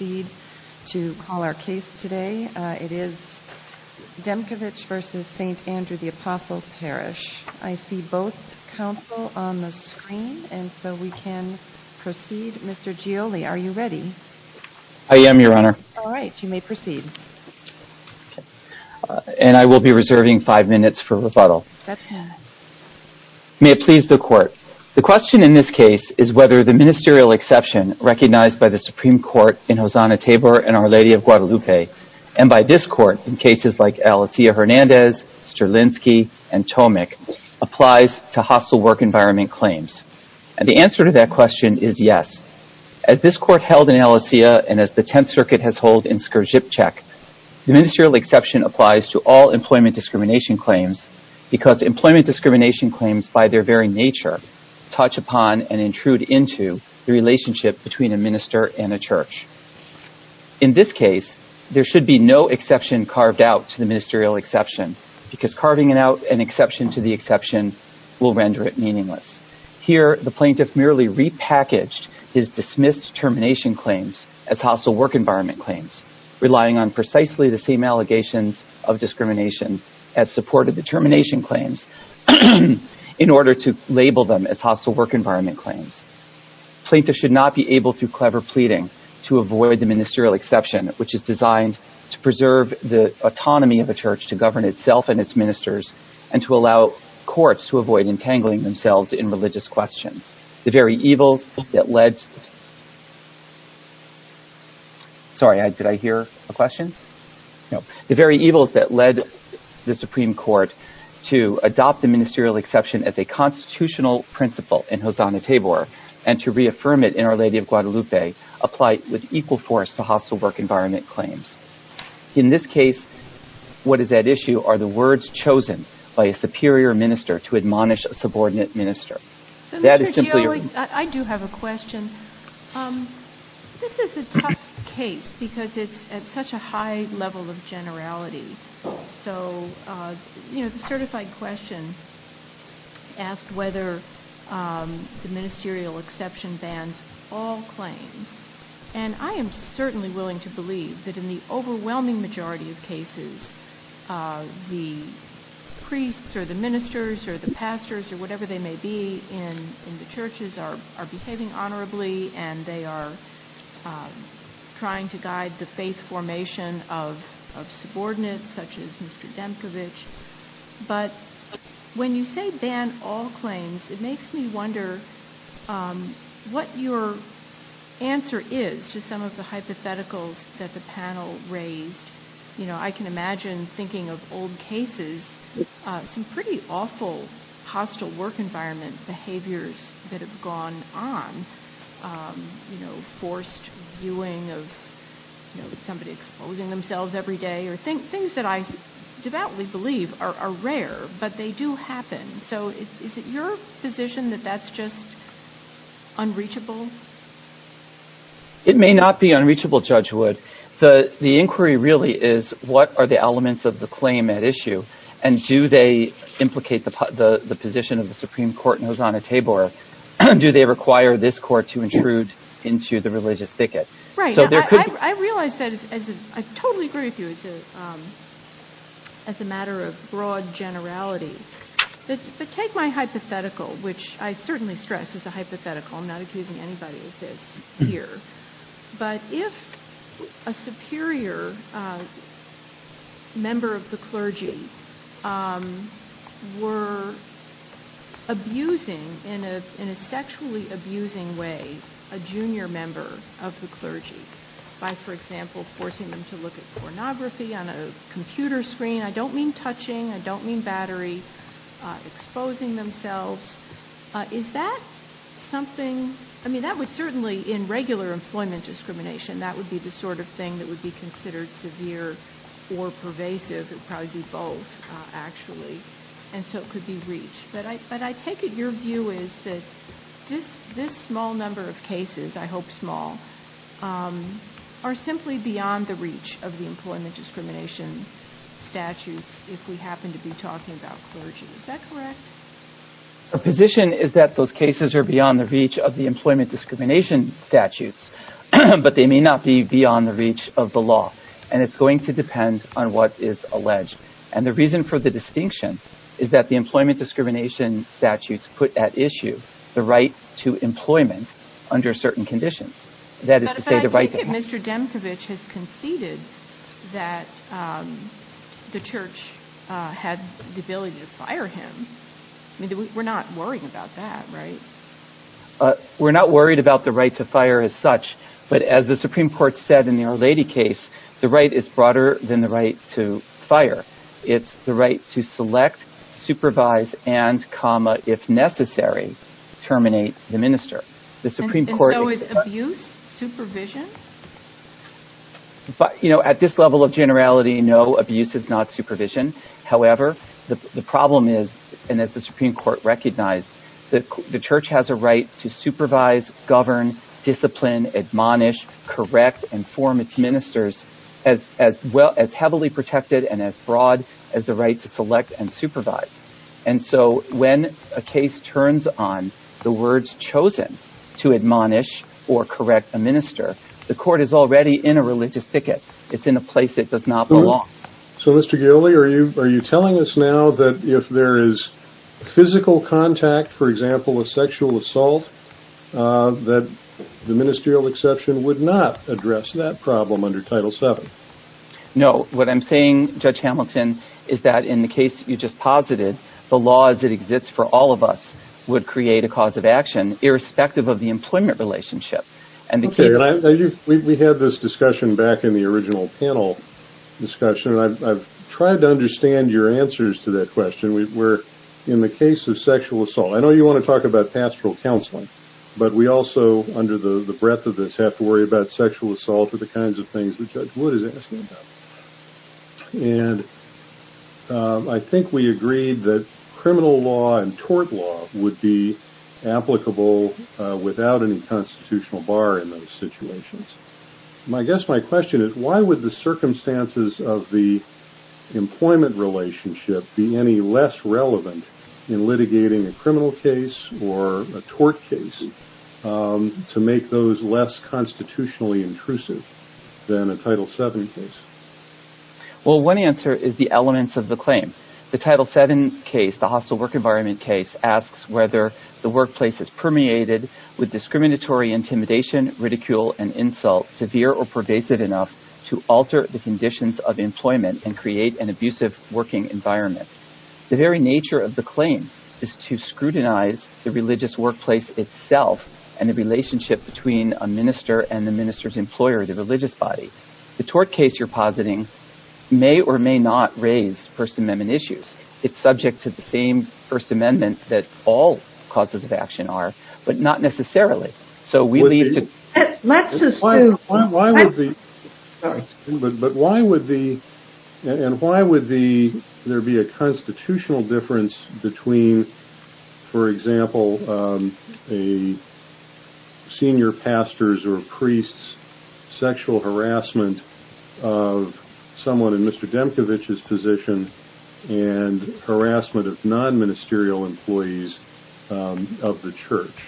May it please the Court. The question in this case is whether the ministerial exception recognized by the Supreme Court in Hosanna Tabor and Our Lady of Guadalupe and by this court in cases like Alessia Hernandez, Strelinsky, and Tomek applies to hostile work environment claims. And the answer to that question is yes. As this court held in Alessia and as the Tenth Circuit has hold in Skrzipcek, the ministerial exception applies to all employment discrimination claims because employment discrimination claims by their very nature touch upon and intrude into the relationship between a in this case there should be no exception carved out to the ministerial exception because carving it out an exception to the exception will render it meaningless. Here the plaintiff merely repackaged his dismissed termination claims as hostile work environment claims relying on precisely the same allegations of discrimination as supported the termination claims in order to label them as hostile work environment claims. Plaintiff should not be able through clever pleading to avoid the ministerial exception which is designed to preserve the autonomy of a church to govern itself and its ministers and to allow courts to avoid entangling themselves in religious questions. The very evils that led the Supreme Court to adopt the ministerial exception as a constitutional principle in Hosanna Tabor and to reaffirm it Our Lady of Guadalupe apply with equal force to hostile work environment claims. In this case what is at issue are the words chosen by a superior minister to admonish a subordinate minister. I do have a question. This is a tough case because it's at such a high level of generality so the certified question asked whether the ministerial exception bans all claims and I am certainly willing to believe that in the overwhelming majority of cases the priests or the ministers or the pastors or whatever they may be in the churches are behaving honorably and they are trying to guide the faith formation of subordinates such as Mr. Demkovich but when you say ban all claims it makes me wonder what your answer is to some of the hypotheticals that the panel raised. You know I can imagine thinking of old cases some pretty awful hostile work environment behaviors that have gone on you know forced viewing of you know somebody exposing themselves every day or things that I devoutly believe are rare but they do happen so is it your position that that's just unreachable? It may not be unreachable Judge Wood. The inquiry really is what are the elements of the claim at issue and do they implicate the position of the Supreme Court in Hosanna-Tabor or do they require this court to intrude into the religious thicket? Right I realize that as I totally agree with you as a as a matter of broad generality but take my hypothetical which I certainly stress as a hypothetical I'm not accusing anybody of this here but if a superior member of the clergy were abusing in a sexually abusing way a junior member of the clergy by for example forcing them to look at pornography on a computer screen I don't mean touching I don't mean battery exposing themselves is that something I mean that would certainly in regular employment discrimination that would be the sort of thing that would be considered severe or pervasive it probably be both actually and so it could be reached but I but I take it your view is that this this small number of cases I hope small are simply beyond the reach of the employment discrimination statutes if we happen to be talking about clergy is that correct? The position is that those cases are beyond the reach of the employment discrimination statutes but they may not be beyond the reach of the law and it's going to depend on what is alleged and the reason for the distinction is that the employment discrimination statutes put at issue the right to employment under certain conditions that is to say the right to Mr. Demkiewicz has conceded that the church had the ability to fire him I mean we're not worried about that right uh we're not worried about the right to fire as such but as the supreme court said in the Our Lady case the right is broader than the right to fire it's the right to select supervise and comma if necessary terminate the minister the supreme court is abuse supervision but you know at this level of generality no abuse is not supervision however the problem is and as the supreme court recognized that the church has a right to supervise govern discipline admonish correct and form its ministers as as well as heavily protected and as broad as the right to select and supervise and so when a case turns on the words chosen to admonish or correct a minister the court is already in a religious thicket it's in a place it does not belong. So Mr. Gaoli are you are you telling us now that if there is physical contact for example a sexual assault that the ministerial exception would not address that problem under title 7? No what I'm saying Judge Hamilton is that in the case you just posited the law as it exists for all of us would create a cause of action irrespective of the employment relationship and we had this discussion back in the original panel discussion and I've tried to understand your answers to that question we're in the case of sexual assault I know you want to talk about pastoral counseling but we also under the the breadth of this have to worry about sexual assault or the kinds of things that Judge Wood is asking about and I think we agreed that criminal law and tort law would be applicable without any constitutional bar in those situations. I guess my question is why would the circumstances of the employment relationship be any less relevant in litigating a criminal case or a tort case to make those less constitutionally intrusive than a title 7 case? Well one answer is the elements of the claim the title 7 case the hostile work environment case asks whether the workplace is permeated with discriminatory intimidation ridicule and insult severe or pervasive enough to alter the conditions of employment and create an abusive working environment. The very nature of the claim is to scrutinize the religious workplace itself and the relationship between a minister and the minister's employer the religious body. The tort case you're positing may or may not raise first amendment issues it's first amendment that all causes of action are but not necessarily. So we leave to but why would the and why would the there be a constitutional difference between for example a senior pastor's or priest's sexual harassment of someone in Mr. Demkevich's position and harassment of non-ministerial employees of the church?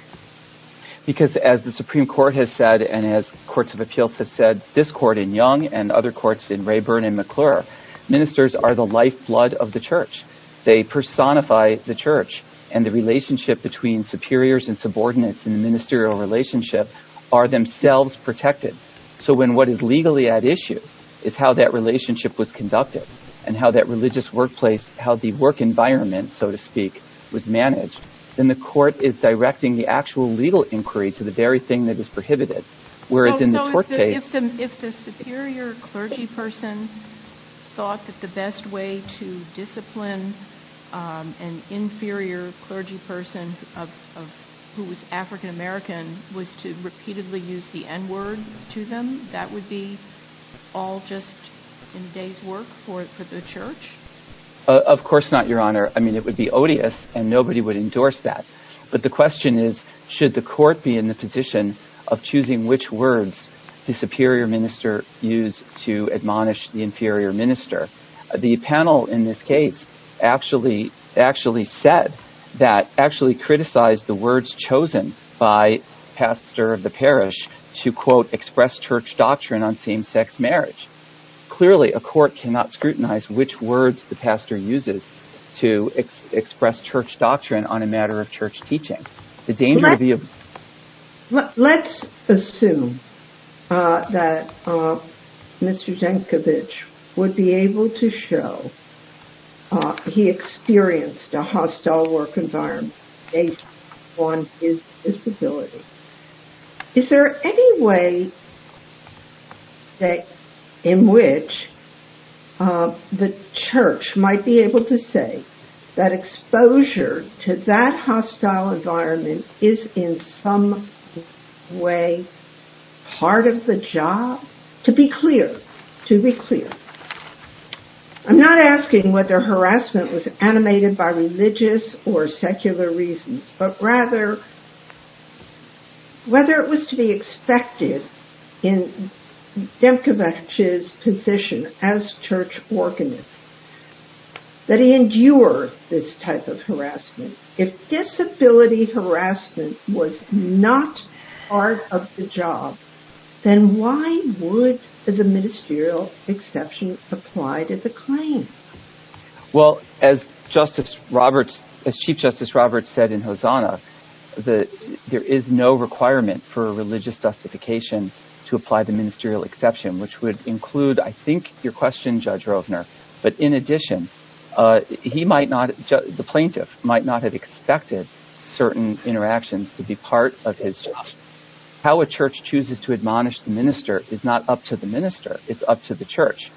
Because as the supreme court has said and as courts of appeals have said this court in Young and other courts in Rayburn and McClure ministers are the lifeblood of the church they personify the church and the relationship between superiors and subordinates in the ministerial relationship are themselves protected. So when what is legally at issue is how that relationship was conducted and how that religious workplace how the work environment so to speak was managed then the court is directing the actual legal inquiry to the very thing that is prohibited whereas in the tort case if the superior clergy person thought that the best way to discipline an inferior clergy person of who was African-American was to repeatedly use the n-word to them that would be all just in a day's work for the church? Of course not your honor. I mean it would be odious and nobody would endorse that but the question is should the court be in the position of choosing which words the superior minister use to admonish the inferior minister? The panel in this case actually actually said that actually criticized the words chosen by pastor of the parish to quote express church doctrine on same-sex marriage. Clearly a court cannot scrutinize which words the pastor uses to express church doctrine on a matter of church teaching. Let's assume that Mr. Jankovich would be able to show he experienced a hostile work environment based on his disability. Is there any way that in which the church might be able to say that exposure to that hostile environment is in some way part of the job? To be clear to be clear I'm not asking whether harassment was animated by religious or secular reasons but rather whether it was to be expected in Jankovich's position as church organist that he endure this type of harassment. If disability harassment was not part of the job then why would the ministerial exception apply to the claim? Well as justice Roberts as chief justice Roberts said in Hosanna that there is no requirement for religious justification to apply the ministerial exception which would include I think your question Judge Rovner but in addition he might not the plaintiff might not have expected certain interactions to be part of his job. How a church chooses to admonish the minister is not up to the minister it's up to the church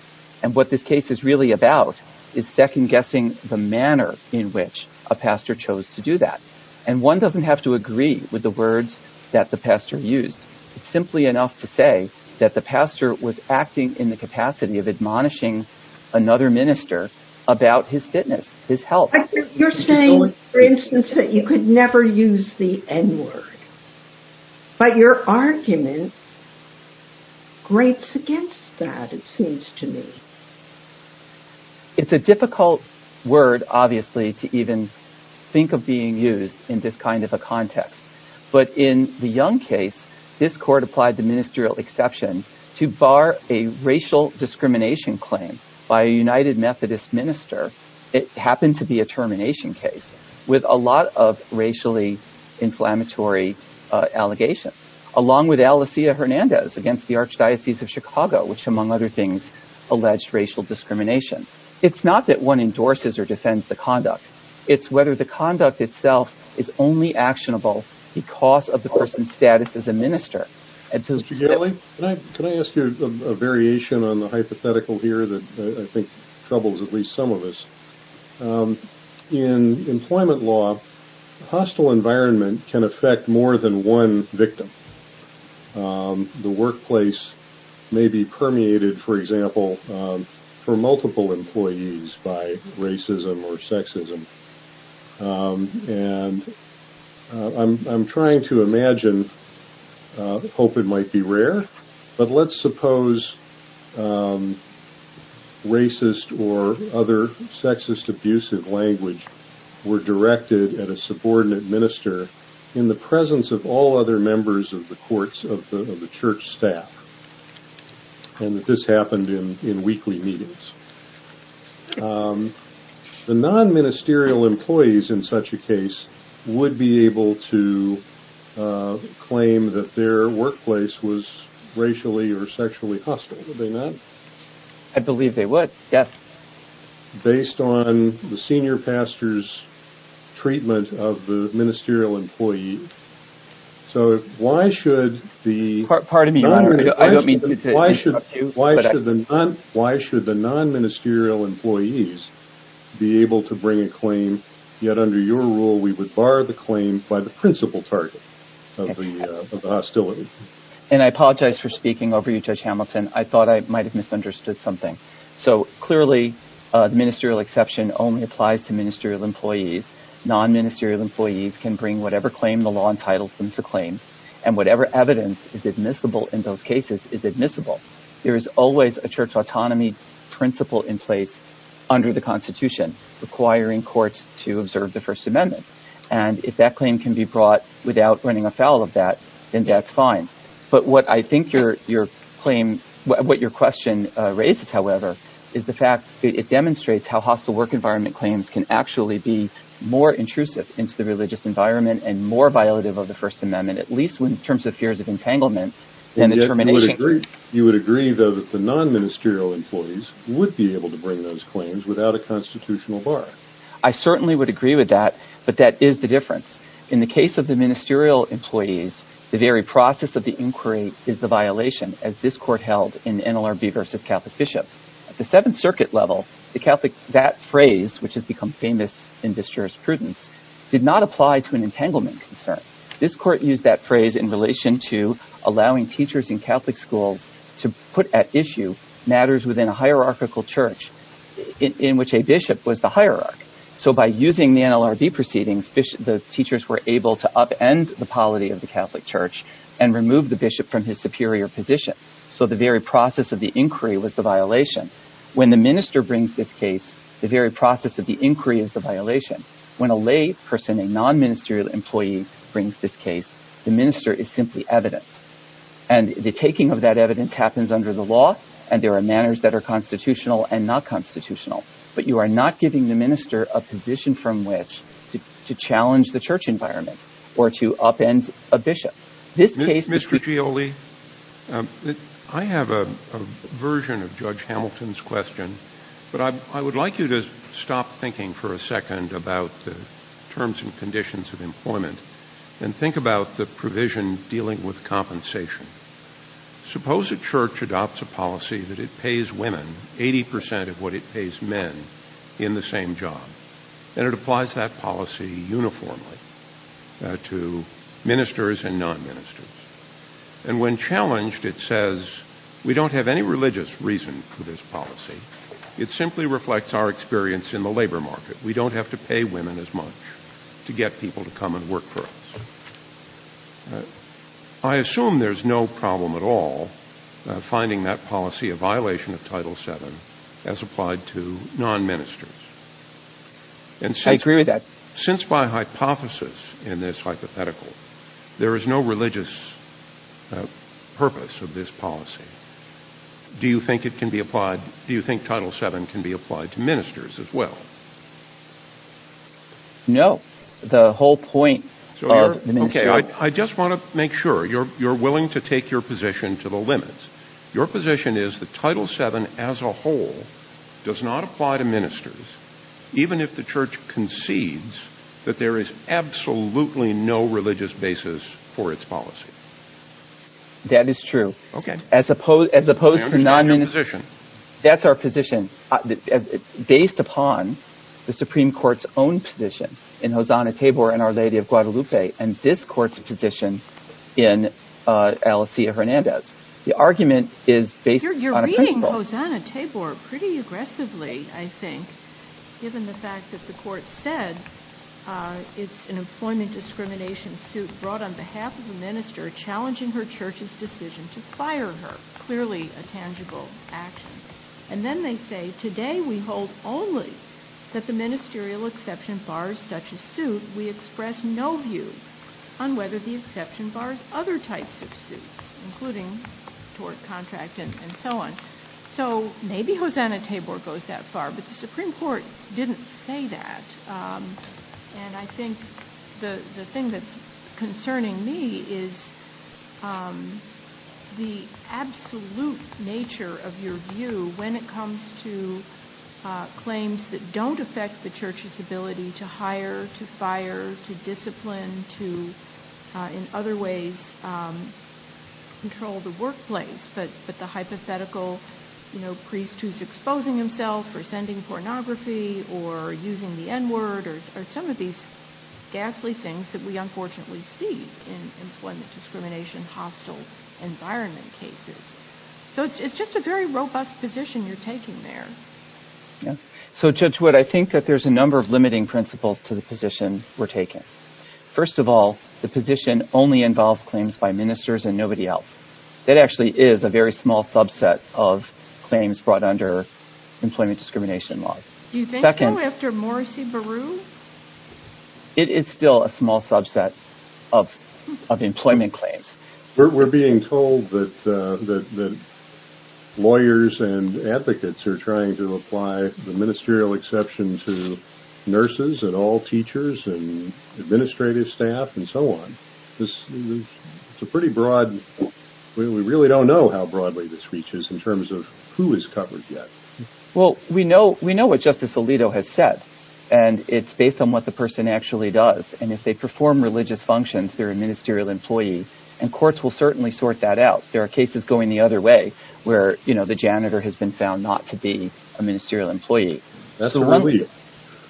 and what this case is really about is second guessing the manner in which a pastor chose to that and one doesn't have to agree with the words that the pastor used simply enough to say that the pastor was acting in the capacity of admonishing another minister about his fitness his health. You're saying for instance that you could never use the n-word but your argument greats against that it seems to me. It's a difficult word obviously to even think of being used in this kind of a context but in the Young case this court applied the ministerial exception to bar a racial discrimination claim by a United Methodist minister it happened to be a termination case with a lot of racially inflammatory allegations along with Alessia Hernandez against the Archdiocese of Chicago which among other things alleged racial discrimination. It's not that one endorses or defends the conduct it's whether the conduct itself is only actionable because of the person's status as a minister. Can I ask you a variation on the hypothetical here that I think troubles at least some of us in employment law a hostile environment can affect more than one victim. The workplace may be permeated for example for multiple employees by racism or sexism and I'm trying to imagine hope it might be rare but let's suppose racist or other sexist abusive language were directed at a subordinate minister in the presence of all other members of the courts of the church staff and this happened in in weekly meetings. The non-ministerial employees in such a case would be able to claim that their workplace was I believe they would yes based on the senior pastor's treatment of the ministerial employee so why should the non-ministerial employees be able to bring a claim yet under your rule we would bar the claim by the principal target of the hostility and I apologize for speaking over Judge Hamilton I thought I might have misunderstood something so clearly the ministerial exception only applies to ministerial employees non-ministerial employees can bring whatever claim the law entitles them to claim and whatever evidence is admissible in those cases is admissible. There is always a church autonomy principle in place under the constitution requiring courts to observe the first amendment and if that claim can be brought without running afoul of that then that's fine but what I think your claim what your question raises however is the fact it demonstrates how hostile work environment claims can actually be more intrusive into the religious environment and more violative of the first amendment at least in terms of fears of entanglement and the termination. You would agree though that the non-ministerial employees would be able to bring those claims without a constitutional bar. I certainly would agree with that but that is the difference in the case of the ministerial employees the very process of the inquiry is the violation as this court held in NLRB versus Catholic Bishop. At the seventh circuit level the Catholic that phrase which has become famous in disjurisprudence did not apply to an entanglement concern. This court used that phrase in relation to allowing teachers in Catholic schools to put at issue matters within a hierarchical church in which a bishop was the proceedings the teachers were able to upend the polity of the Catholic Church and remove the bishop from his superior position so the very process of the inquiry was the violation when the minister brings this case the very process of the inquiry is the violation when a lay person a non-ministerial employee brings this case the minister is simply evidence and the taking of that evidence happens under the law and there are manners that are constitutional and not to challenge the church environment or to upend a bishop. This case Mr. Gioli I have a version of Judge Hamilton's question but I would like you to stop thinking for a second about the terms and conditions of employment and think about the provision dealing with compensation suppose a church adopts a policy that it pays women 80 percent of what it pays men in the same job and it applies that policy uniformly to ministers and non-ministers and when challenged it says we don't have any religious reason for this policy it simply reflects our experience in the labor market we don't have to pay women as much to get people to come and work for us. I assume there's no problem at all finding that policy a violation of Title VII as applied to non-ministers. I agree with that. Since by hypothesis in this hypothetical there is no religious purpose of this policy do you think it can be applied do you think Title VII can be applied to ministers as well? No the whole point. Okay I just want to make sure you're willing to take your position to the limits your position is that Title VII as a whole does not apply to ministers even if the church concedes that there is absolutely no religious basis for its policy. That is true okay as opposed as opposed to non-minister that's our position based upon the Supreme Court's own position in Hosanna Tabor and Our Lady of Guadalupe and this court's position in Alessia Hernandez the argument is based on a principle. You're reading Hosanna Tabor pretty aggressively I think given the fact that the court said it's an employment discrimination suit brought on behalf of the minister challenging her church's decision to fire her clearly a tangible action and then they say today we hold only that the ministerial exception bars such a suit we express no view on whether the exception bars other types of suits including tort contract and so on so maybe Hosanna Tabor goes that far but the Supreme Court didn't say that and I think the the thing that's concerning me is the absolute nature of your view when it comes to in other ways control the workplace but the hypothetical you know priest who's exposing himself or sending pornography or using the n-word or some of these ghastly things that we unfortunately see in employment discrimination hostile environment cases so it's just a very robust position you're taking there. Yeah so Judge Wood I think that there's a number of limiting principles to the position we're taking. First of all the position only involves claims by ministers and nobody else that actually is a very small subset of claims brought under employment discrimination laws. Do you think so after Morrissey-Beru? It is still a small subset of of employment claims. We're being told that that lawyers and nurses and all teachers and administrative staff and so on this is a pretty broad we really don't know how broadly this reaches in terms of who is covered yet. Well we know we know what Justice Alito has said and it's based on what the person actually does and if they perform religious functions they're a ministerial employee and courts will certainly sort that out there are cases going the other way where you know the janitor has been found not to be a ministerial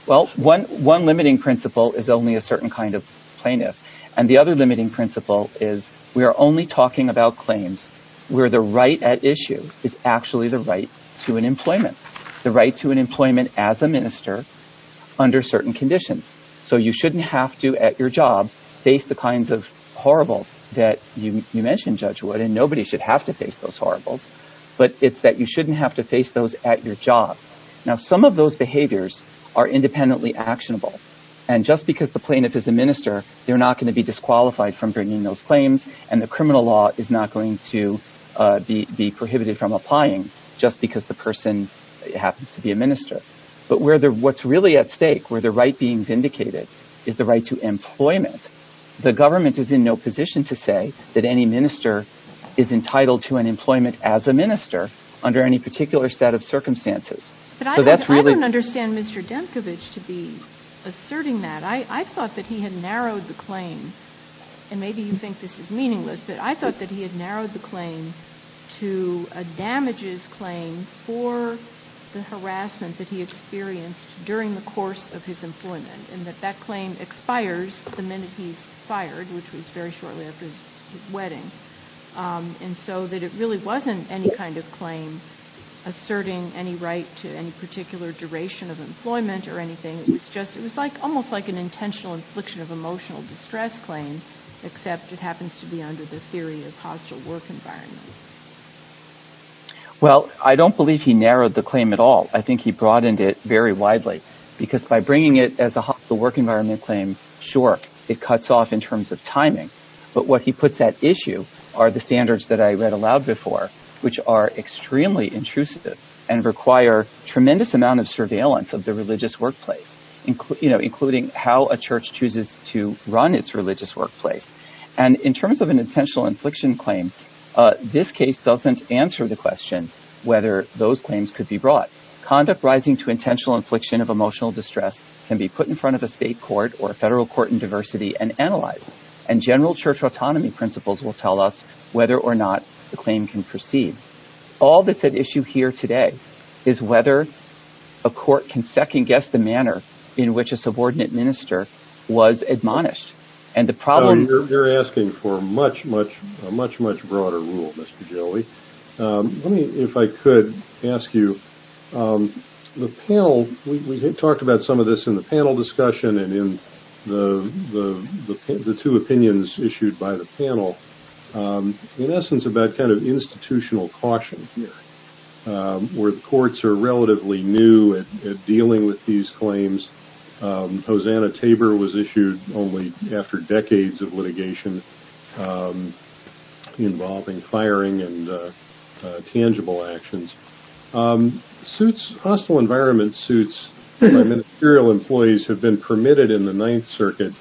one limiting principle is only a certain kind of plaintiff and the other limiting principle is we are only talking about claims where the right at issue is actually the right to an employment the right to an employment as a minister under certain conditions so you shouldn't have to at your job face the kinds of horribles that you mentioned Judge Wood and nobody should have to face those horribles but it's that you shouldn't have to face those at your job. Now some of those behaviors are independently actionable and just because the plaintiff is a minister they're not going to be disqualified from bringing those claims and the criminal law is not going to be prohibited from applying just because the person happens to be a minister but where they're what's really at stake where the right being vindicated is the right to employment. The government is in no position to say that any minister is entitled to an employment as a minister under any particular set of circumstances. But I don't understand Mr. Demkevich to be asserting that. I thought that he had narrowed the claim and maybe you think this is meaningless but I thought that he had narrowed the claim to a damages claim for the harassment that he experienced during the course of his employment and that that claim expires the minute he's fired which was very shortly after his wedding and so that it really wasn't any kind of claim asserting any right to any particular duration of employment or anything. It was just it was like almost like an intentional infliction of emotional distress claim except it happens to be under the theory of hostile work environment. Well I don't believe he narrowed the claim at all. I think he broadened it very widely because by bringing it as a hostile work environment claim sure it cuts off in terms of timing but what he puts at issue are the standards that I read aloud before which are extremely intrusive and require tremendous amount of surveillance of the religious workplace including how a church chooses to run its religious workplace and in terms of an intentional infliction claim this case doesn't answer the question whether those claims could be brought. Conduct rising to intentional infliction of emotional distress can be put in front of a court or a federal court in diversity and analyzed and general church autonomy principles will tell us whether or not the claim can proceed. All that's at issue here today is whether a court can second-guess the manner in which a subordinate minister was admonished and the problem. You're asking for much much a much much broader rule Mr. Jelley. Let me if I could ask you the panel we talked about some of this in the panel discussion and in the the two opinions issued by the panel in essence about kind of institutional caution here where the courts are relatively new at dealing with these claims. Hosanna Tabor was issued only after decades of litigation involving firing and tangible actions. Hostile environment suits by ministerial employees have been permitted in the Ninth Circuit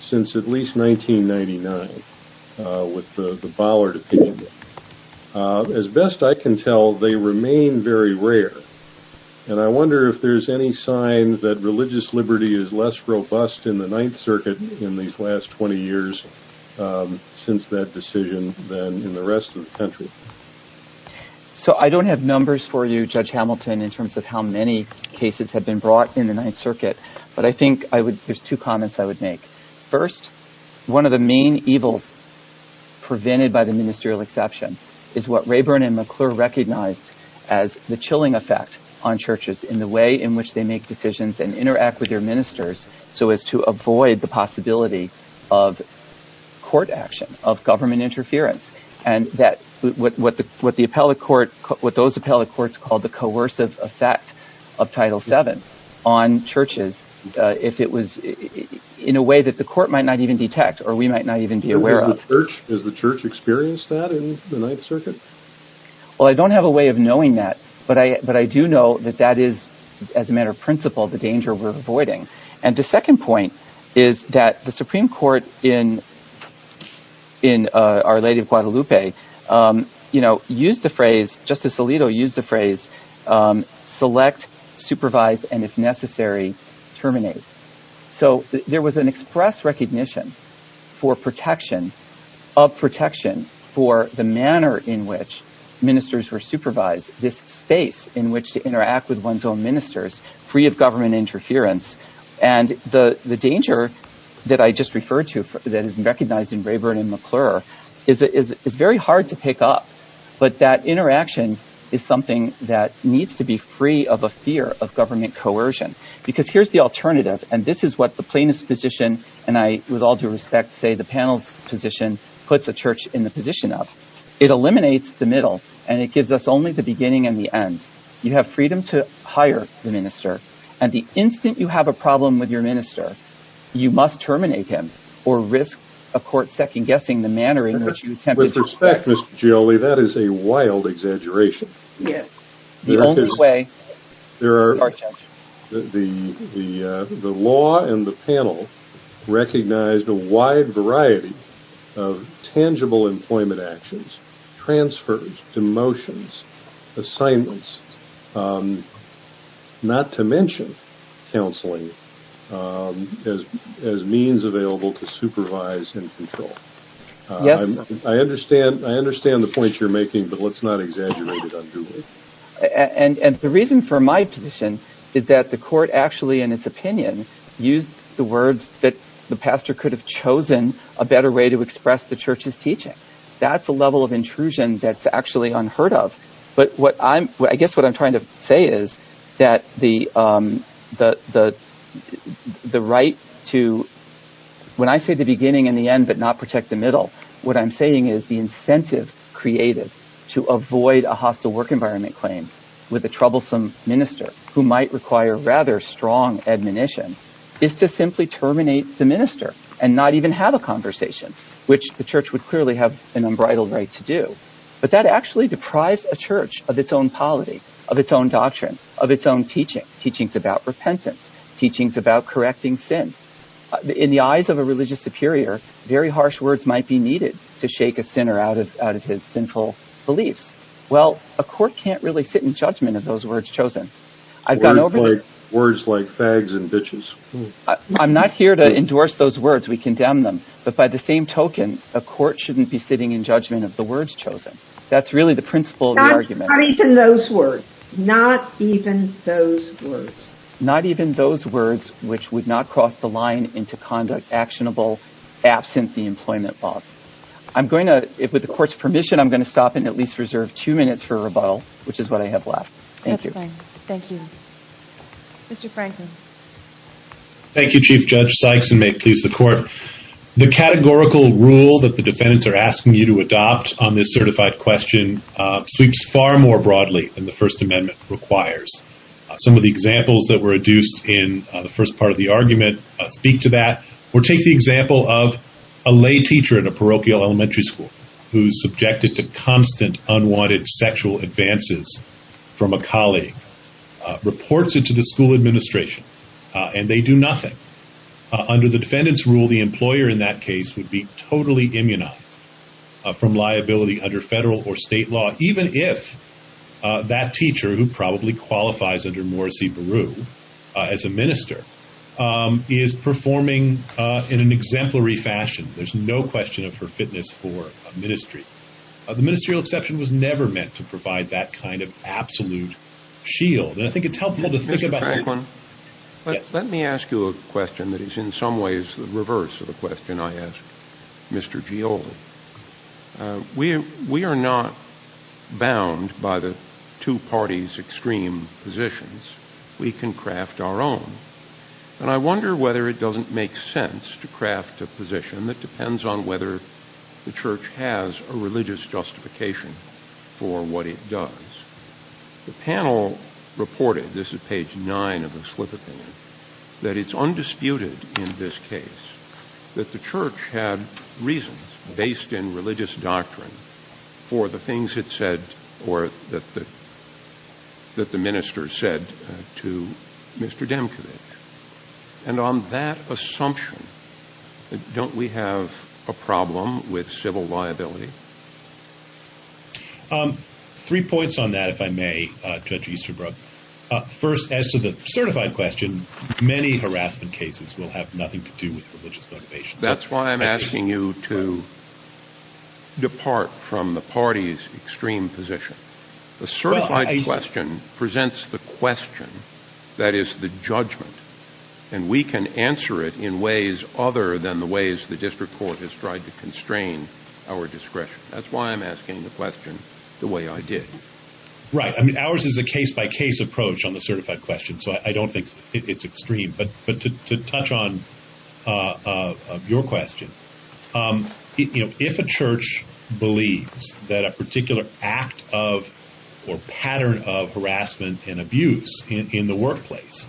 since at least 1999 with the Bollard opinion. As best I can tell they remain very rare and I wonder if there's any sign that religious liberty is less robust in the Ninth Circuit in these last 20 years since that decision than in the rest of the country. So I don't have numbers for you Judge Hamilton in terms of how many cases have been brought in the Ninth Circuit but I think I would there's two comments I would make. First one of the main evils prevented by the ministerial exception is what Rayburn and McClure recognized as the chilling effect on churches in the way in which they make decisions and interact with their ministers so as to avoid the possibility of court action of government interference and that what the appellate court what those appellate courts called the coercive effect of Title VII on churches if it was in a way that the court might not even detect or we might not even be aware of. Has the church experienced that in the Ninth Circuit? Well I don't have a way of knowing that but I but I do know that that is as a matter of principle the danger we're avoiding and the second point is that the Supreme Court in in Our Lady of Guadalupe you know used the phrase Justice Alito used the phrase select, supervise, and if necessary terminate. So there was an express recognition for protection of protection for the manner in which ministers were supervised this space in which to interact with one's own ministers free of government interference and the danger that I just referred to that is recognized in Rayburn and McClure is very hard to pick up but that interaction is something that needs to be free of a fear of government coercion because here's the alternative and this is what the plaintiff's position and I with all due respect say the panel's position puts a church in the position of it eliminates the middle and it gives us only the beginning and the end you have freedom to hire the minister and the instant you have a problem with your minister you must terminate him or risk a court second-guessing the manner in which you attempted to respect. With respect Ms. Gioli that is a wild exaggeration. Yes the only way there are the the law and the panel recognized a wide variety of tangible employment actions, transfers, demotions, assignments, not to mention counseling as means available to supervise and control. Yes I understand I understand the point you're making but let's not exaggerate it unduly. And the reason for my position is that the court actually in its opinion used the words that the pastor could have chosen a better way to express the church's teaching. That's a level of intrusion that's actually unheard of but what I guess what I'm trying to say is that the right to when I say the beginning and the end but not protect the middle what I'm saying is the incentive creative to avoid a hostile work environment claim with a troublesome minister who might require rather strong admonition is to simply terminate the minister and not even have a but that actually deprives a church of its own polity of its own doctrine of its own teaching teachings about repentance teachings about correcting sin in the eyes of a religious superior very harsh words might be needed to shake a sinner out of out of his sinful beliefs. Well a court can't really sit in judgment of those words chosen. I've gone over words like fags and bitches. I'm not here to endorse those words we condemn them but by the same token a court shouldn't be sitting in judgment of the words chosen. That's really the principle argument. Not even those words. Not even those words. Not even those words which would not cross the line into conduct actionable absent the employment laws. I'm going to with the court's permission I'm going to stop and at least reserve two minutes for a rebuttal which is what I have left. Thank you. Thank you. Mr. Franklin. Thank you Chief Judge Sykes and may it please the court. The categorical rule that the court is asking you to adopt on this certified question sweeps far more broadly than the First Amendment requires. Some of the examples that were adduced in the first part of the argument speak to that or take the example of a lay teacher at a parochial elementary school who's subjected to constant unwanted sexual advances from a colleague reports it to the school administration and they do nothing. Under the defendant's rule the employer in that case would be totally immunized from liability under federal or state law even if that teacher who probably qualifies under Morrissey Baru as a minister is performing in an exemplary fashion. There's no question of her fitness for a ministry. The ministerial exception was never meant to provide that kind of absolute shield and I think it's helpful to think about Franklin. Let me ask you a question that is in some ways the reverse of the question I asked Mr. Gioldi. We are not bound by the two parties extreme positions. We can craft our own and I wonder whether it doesn't make sense to craft a position that depends on whether the church has a religious justification for what it does. The panel reported, this is page nine of the slip opinion, that it's undisputed in this case that the church had reasons based in religious doctrine for the things it said or that the minister said to Mr. Demkevich and on that assumption don't we have a problem with civil liability? Three points on that if I may, Judge Easterbrook. First as to the certified question, many harassment cases will have nothing to do with religious motivation. That's why I'm asking you to depart from the party's extreme position. The certified question presents the question that is the judgment and we can answer it in ways other than the ways the district court has tried to That's why I'm asking the question the way I did. Right, I mean ours is a case-by-case approach on the certified question so I don't think it's extreme but to touch on your question, if a church believes that a particular act of or pattern of harassment and abuse in the workplace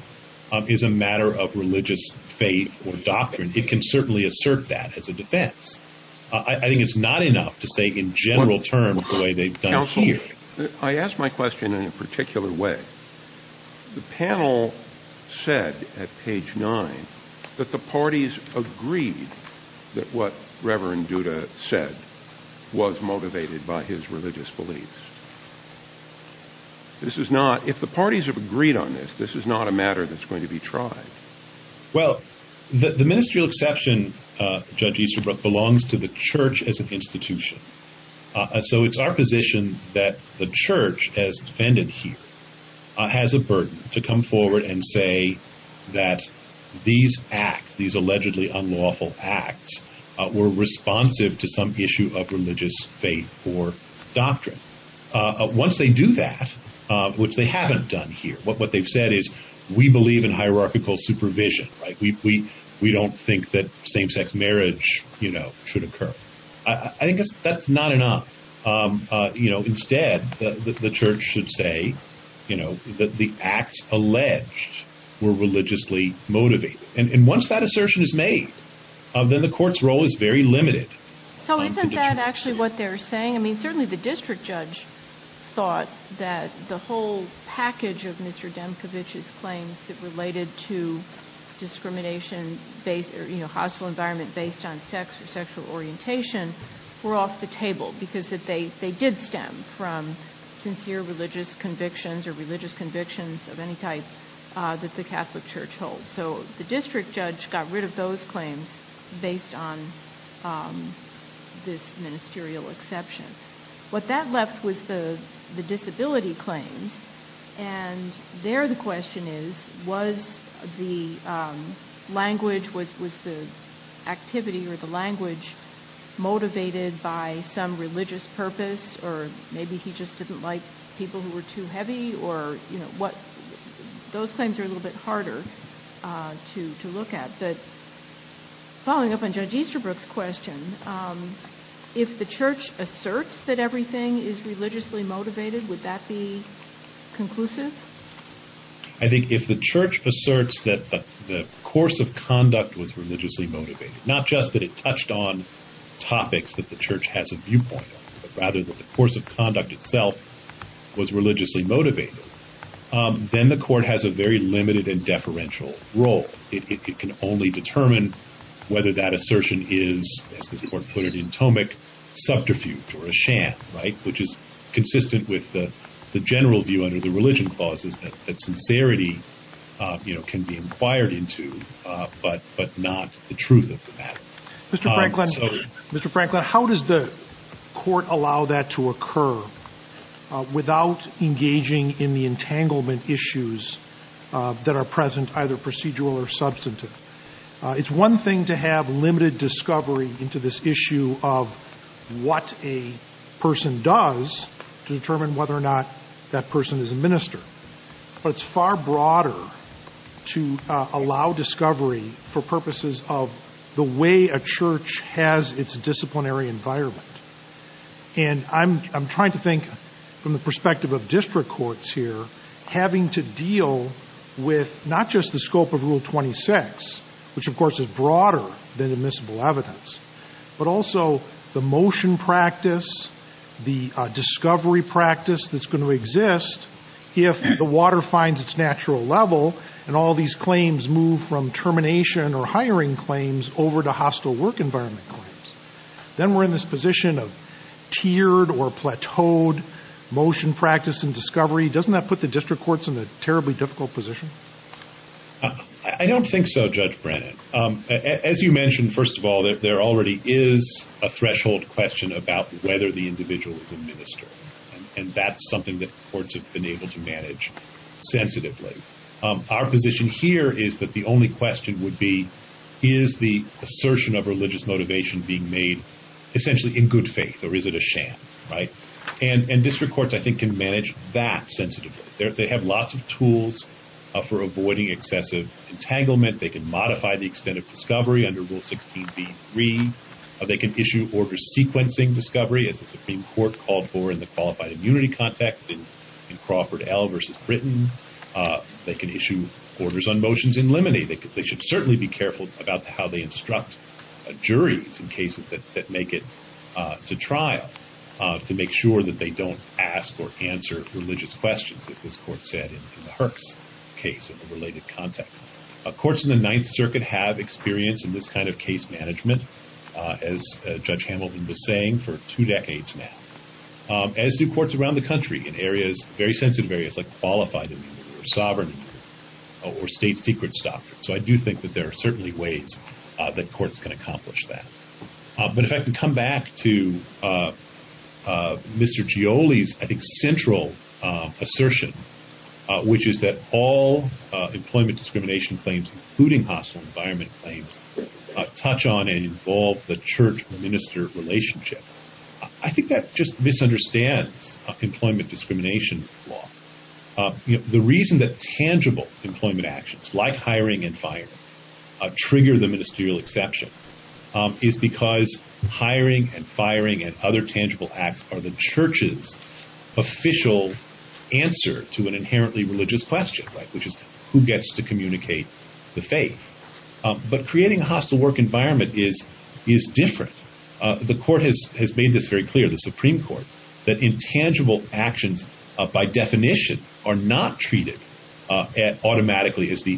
is a matter of religious faith or doctrine it can certainly assert that as a defense. I think it's not enough to say in general terms the way they've done here. I ask my question in a particular way. The panel said at page nine that the parties agreed that what Reverend Duda said was motivated by his religious beliefs. This is not, if the parties have agreed on this, this is not a matter that's going to be tried. Well the ministerial exception, Judge Easterbrook, belongs to the church as an institution. So it's our position that the church, as defended here, has a burden to come forward and say that these acts, these allegedly unlawful acts, were responsive to some issue of religious faith or doctrine. Once they do that, which they haven't done here, what they've said is we believe in hierarchical supervision. We don't think that same-sex marriage should occur. I think that's not enough. Instead, the church should say that the acts alleged were religiously motivated. And once that assertion is made, then the court's role is very limited. So isn't that actually what they're saying? I mean certainly the district judge thought that the whole package of Mr. Demkiewicz's claims that related to discrimination based or, you know, hostile environment based on sex or sexual orientation were off the table because they did stem from sincere religious convictions or religious convictions of any type that the Catholic church holds. So the district judge got rid of those claims based on this ministerial exception. What that left was the disability claims. And there the question is, was the language, was the activity or the language motivated by some religious purpose or maybe he just didn't like people who were too heavy or, you know, those claims are a little bit harder to look at. But following up on Judge Easterbrook's question, if the church asserts that everything is religiously motivated, would that be conclusive? I think if the church asserts that the course of conduct was religiously motivated, not just that it touched on topics that the church has a viewpoint on, but rather that the course of role. It can only determine whether that assertion is, as this court put it in Tomek, subterfuge or a sham, right? Which is consistent with the general view under the religion clauses that sincerity, you know, can be inquired into, but not the truth of the matter. Mr. Franklin, how does the court allow that to occur without engaging in the entanglement issues that are present, either procedural or substantive? It's one thing to have limited discovery into this issue of what a person does to determine whether or not that person is a minister. But it's far broader to allow discovery for purposes of the way a church has its disciplinary environment. And I'm trying to think from the perspective of district courts here, having to deal with not just the scope of Rule 26, which of course is broader than admissible evidence, but also the motion practice, the discovery practice that's going to exist if the water finds its natural level and all these claims move from termination or hiring claims over to hostile work environment claims. Then we're in this position of tiered or plateaued motion practice and discovery. Doesn't that put the district courts in a terribly difficult position? I don't think so, Judge Brennan. As you mentioned, first of all, there already is a threshold question about whether the individual is a minister. And that's something that courts have been able to manage sensitively. Our position here is that the only question would be, is the assertion of religious motivation being made essentially in good faith or is it a sham, right? And district courts, I think, can manage that sensitively. They have lots of tools for avoiding excessive entanglement. They can modify the extent of discovery under Rule 16b3. They can issue orders sequencing discovery, as the Supreme Court called for in the qualified immunity context in Crawford L versus Britain. They can issue orders on motions in limine. They should certainly be careful about how they instruct juries in cases that make it to trial. To make sure that they don't ask or answer religious questions, as this court said in the Herx case in a related context. Courts in the Ninth Circuit have experience in this kind of case management, as Judge Hamilton was saying, for two decades now. As do courts around the country in areas, very sensitive areas, like qualified immunity or sovereign immunity or state secrets doctrine. So I do think that there are certainly ways that courts can accomplish that. But if I can come back to Mr. Gioli's, I think, central assertion, which is that all employment discrimination claims, including hostile environment claims, touch on and involve the church-minister relationship. I think that just misunderstands employment discrimination law. The reason that tangible employment actions like hiring and firing trigger the ministerial exception is because hiring and firing and other tangible acts are the church's official answer to an inherently religious question, which is who gets to communicate the faith. But creating a hostile work environment is different. The court has made this very clear, the Supreme Court, that intangible actions, by definition, are not treated automatically as the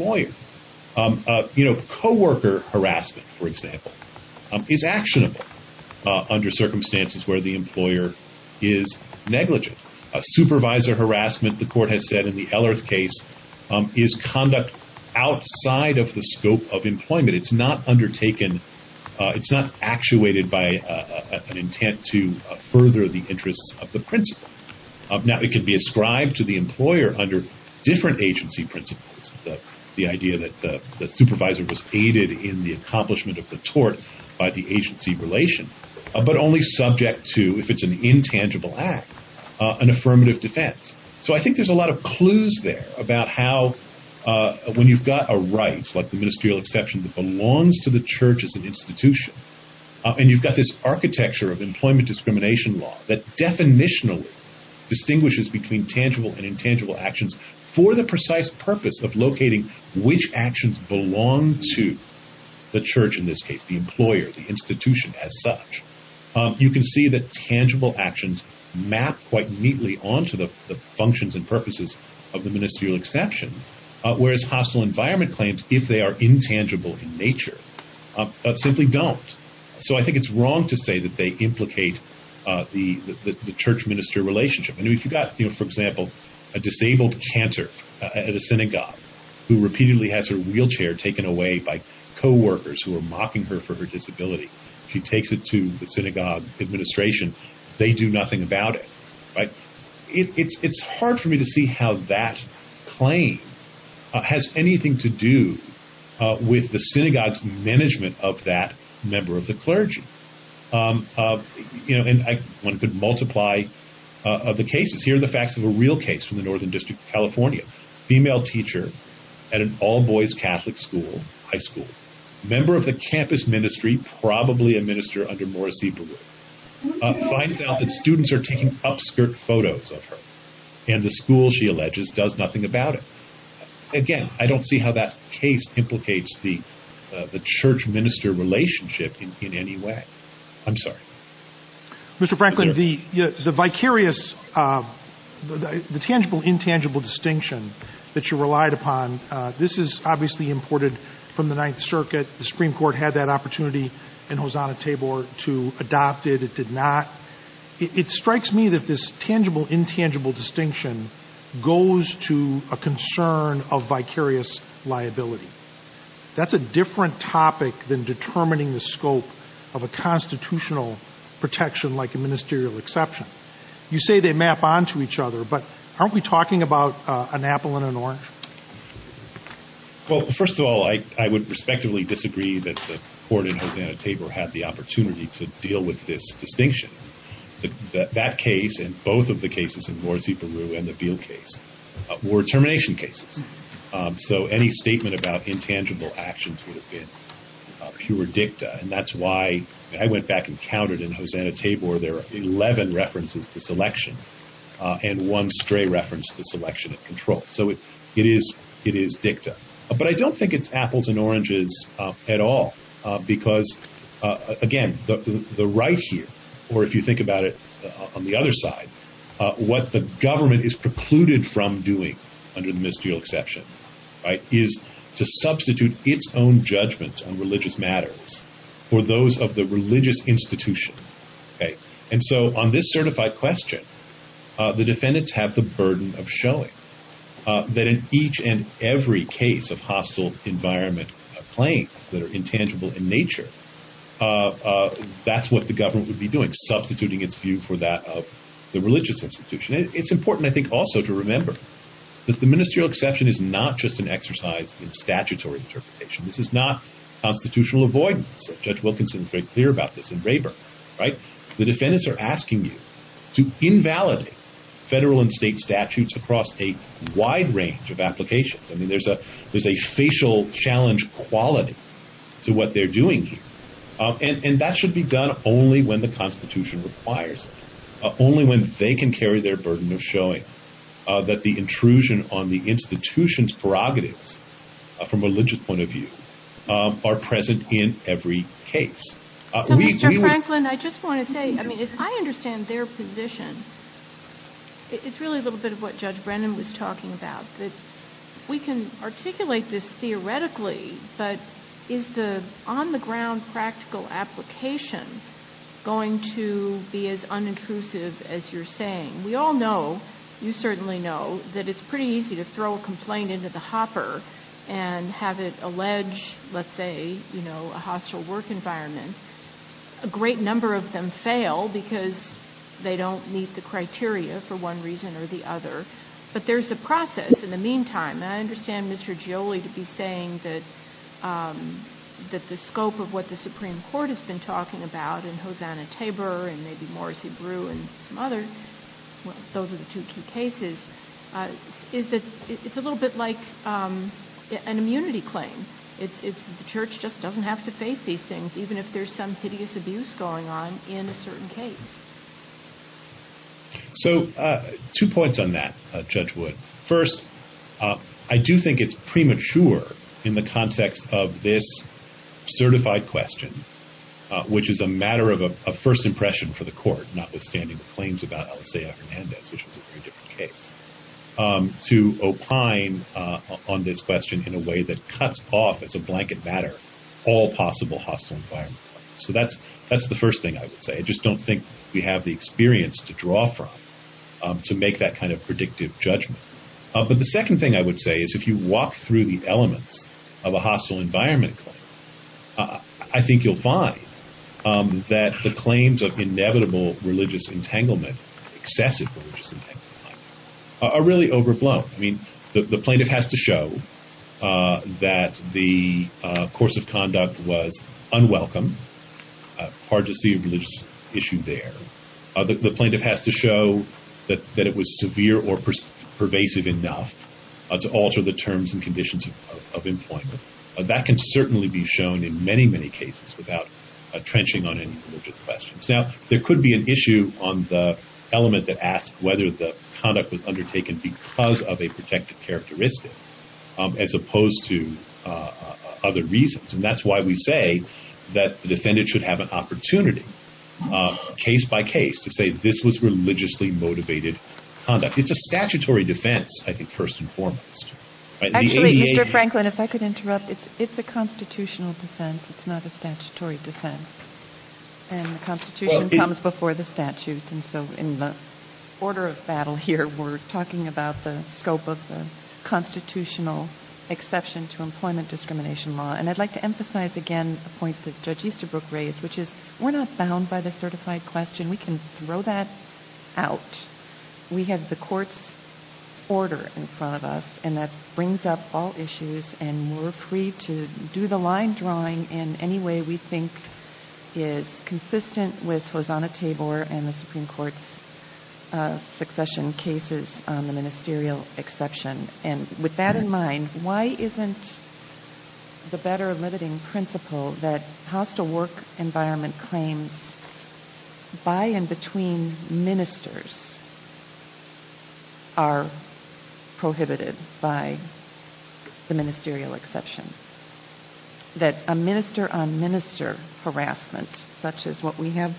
harassment. A coworker harassment, for example, is actionable under circumstances where the employer is negligent. A supervisor harassment, the court has said in the Ellerth case, is conduct outside of the scope of employment. It's not undertaken, it's not actuated by an intent to further the interests of the principal. Now, it can be ascribed to the employer under different agency principles. The idea that the supervisor was aided in the accomplishment of the tort by the agency relation, but only subject to, if it's an intangible act, an affirmative defense. I think there's a lot of clues there about how, when you've got a right, like the ministerial exception that belongs to the church as an institution, and you've got this architecture of employment discrimination law that definitionally distinguishes between tangible and intangible actions for the precise purpose of locating which actions belong to the church, in this case, the employer, the institution, as such. You can see that tangible actions map quite neatly onto the functions and purposes of the ministerial exception, whereas hostile environment claims, if they are intangible in nature, simply don't. So I think it's wrong to say that they implicate the church-minister relationship. For example, a disabled cantor at a synagogue who repeatedly has her wheelchair taken away by co-workers who are mocking her for her disability, she takes it to the synagogue administration, they do nothing about it. It's hard for me to see how that claim has anything to do with the synagogue's management of that member of the clergy. And one could multiply the cases. Here are the facts of a real case from the Northern District of California. A female teacher at an all-boys Catholic school, high school, member of the campus ministry, probably a minister under Maura Sieberwood, finds out that students are taking upskirt photos of her, and the school, she alleges, does nothing about it. Again, I don't see how that case implicates the church-minister relationship in any way. I'm sorry. Mr. Franklin, the vicarious, the tangible-intangible distinction that you relied upon, this is obviously imported from the Ninth Circuit. The Supreme Court had that opportunity in Hosanna-Tabor to adopt it. It did not. It strikes me that this tangible-intangible distinction goes to a concern of vicarious liability. That's a different topic than determining the scope of a constitutional protection like a ministerial exception. You say they map onto each other, but aren't we talking about an apple and an orange? Well, first of all, I would respectively disagree that the court in Hosanna-Tabor had the opportunity to deal with this distinction. That case, and both of the cases in Maura Sieberwood and the Beale case, were termination cases. So any statement about intangible actions would have been pure dicta. That's why I went back and counted in Hosanna-Tabor, there are 11 references to selection and one stray reference to selection and control. So it is dicta. But I don't think it's apples and oranges at all because, again, the right here, or if you think about it on the other side, what the government is precluded from doing under the ministerial exception is to substitute its own judgments on religious matters for those of the religious institution. And so on this certified question, the defendants have the burden of showing that in each and every case of hostile environment claims that are intangible in nature, that's what the government would be doing, substituting its view for that of the religious institution. It's important, I think, also to remember that the ministerial exercise in statutory interpretation, this is not constitutional avoidance. Judge Wilkinson is very clear about this in Rayburn, right? The defendants are asking you to invalidate federal and state statutes across a wide range of applications. I mean, there's a facial challenge quality to what they're doing here. And that should be done only when the Constitution requires it, only when they can carry their burden of showing that the intrusion on the institution's prerogatives from a religious point of view are present in every case. So, Mr. Franklin, I just want to say, I mean, as I understand their position, it's really a little bit of what Judge Brennan was talking about, that we can articulate this as you're saying. We all know, you certainly know, that it's pretty easy to throw a complaint into the hopper and have it allege, let's say, you know, a hostile work environment. A great number of them fail because they don't meet the criteria for one reason or the other. But there's a process in the meantime, and I understand Mr. Gioli to be saying that the scope of what the Supreme Court has been talking about, and Hosanna Tabor, and maybe Morris Ebreu, and some other, well, those are the two key cases, is that it's a little bit like an immunity claim. It's the Church just doesn't have to face these things, even if there's some hideous abuse going on in a certain case. So, two points on that, Judge Wood. First, I do think it's premature in the context of this certified question, which is a matter of first impression for the court, notwithstanding the claims about Alessia Hernandez, which was a very different case, to opine on this question in a way that cuts off, as a blanket matter, all possible hostile environment. So, that's the first thing I would say. I just don't think we have the experience to draw from to make that kind of predictive judgment. But the second thing I would say is if you walk through the elements of a hostile environment claim, I think you'll find that the claims of inevitable religious entanglement, excessive religious entanglement, are really overblown. I mean, the plaintiff has to show that the course of conduct was unwelcome, hard to see a religious issue there. The plaintiff has to show that it was severe or pervasive enough to alter the terms and conditions of employment. That can certainly be shown in many, many cases without trenching on any religious questions. Now, there could be an issue on the element that asks whether the conduct was undertaken because of a protective characteristic, as opposed to other reasons. And that's why we say that the defendant should have an opportunity, case by case, to say this was religiously motivated conduct. It's a statutory defense, I think, first and foremost. Actually, Mr. Franklin, if I could interrupt. It's a constitutional defense. It's not a statutory defense. And the Constitution comes before the statute. And so in the order of battle here, we're talking about the scope of the constitutional exception to employment discrimination law. And I'd like to emphasize again a point that Judge Easterbrook raised, which is we're not bound by the certified question. We can throw that out. We have the court's order in front of us. And that brings up all issues. And we're free to do the line drawing in any way we think is consistent with Hosanna-Tabor and the Supreme Court's succession cases on the ministerial exception. And with that in mind, why isn't the better limiting principle that hostile work environment claims by and between ministers are prohibited by the ministerial exception? That a minister-on-minister harassment, such as what we have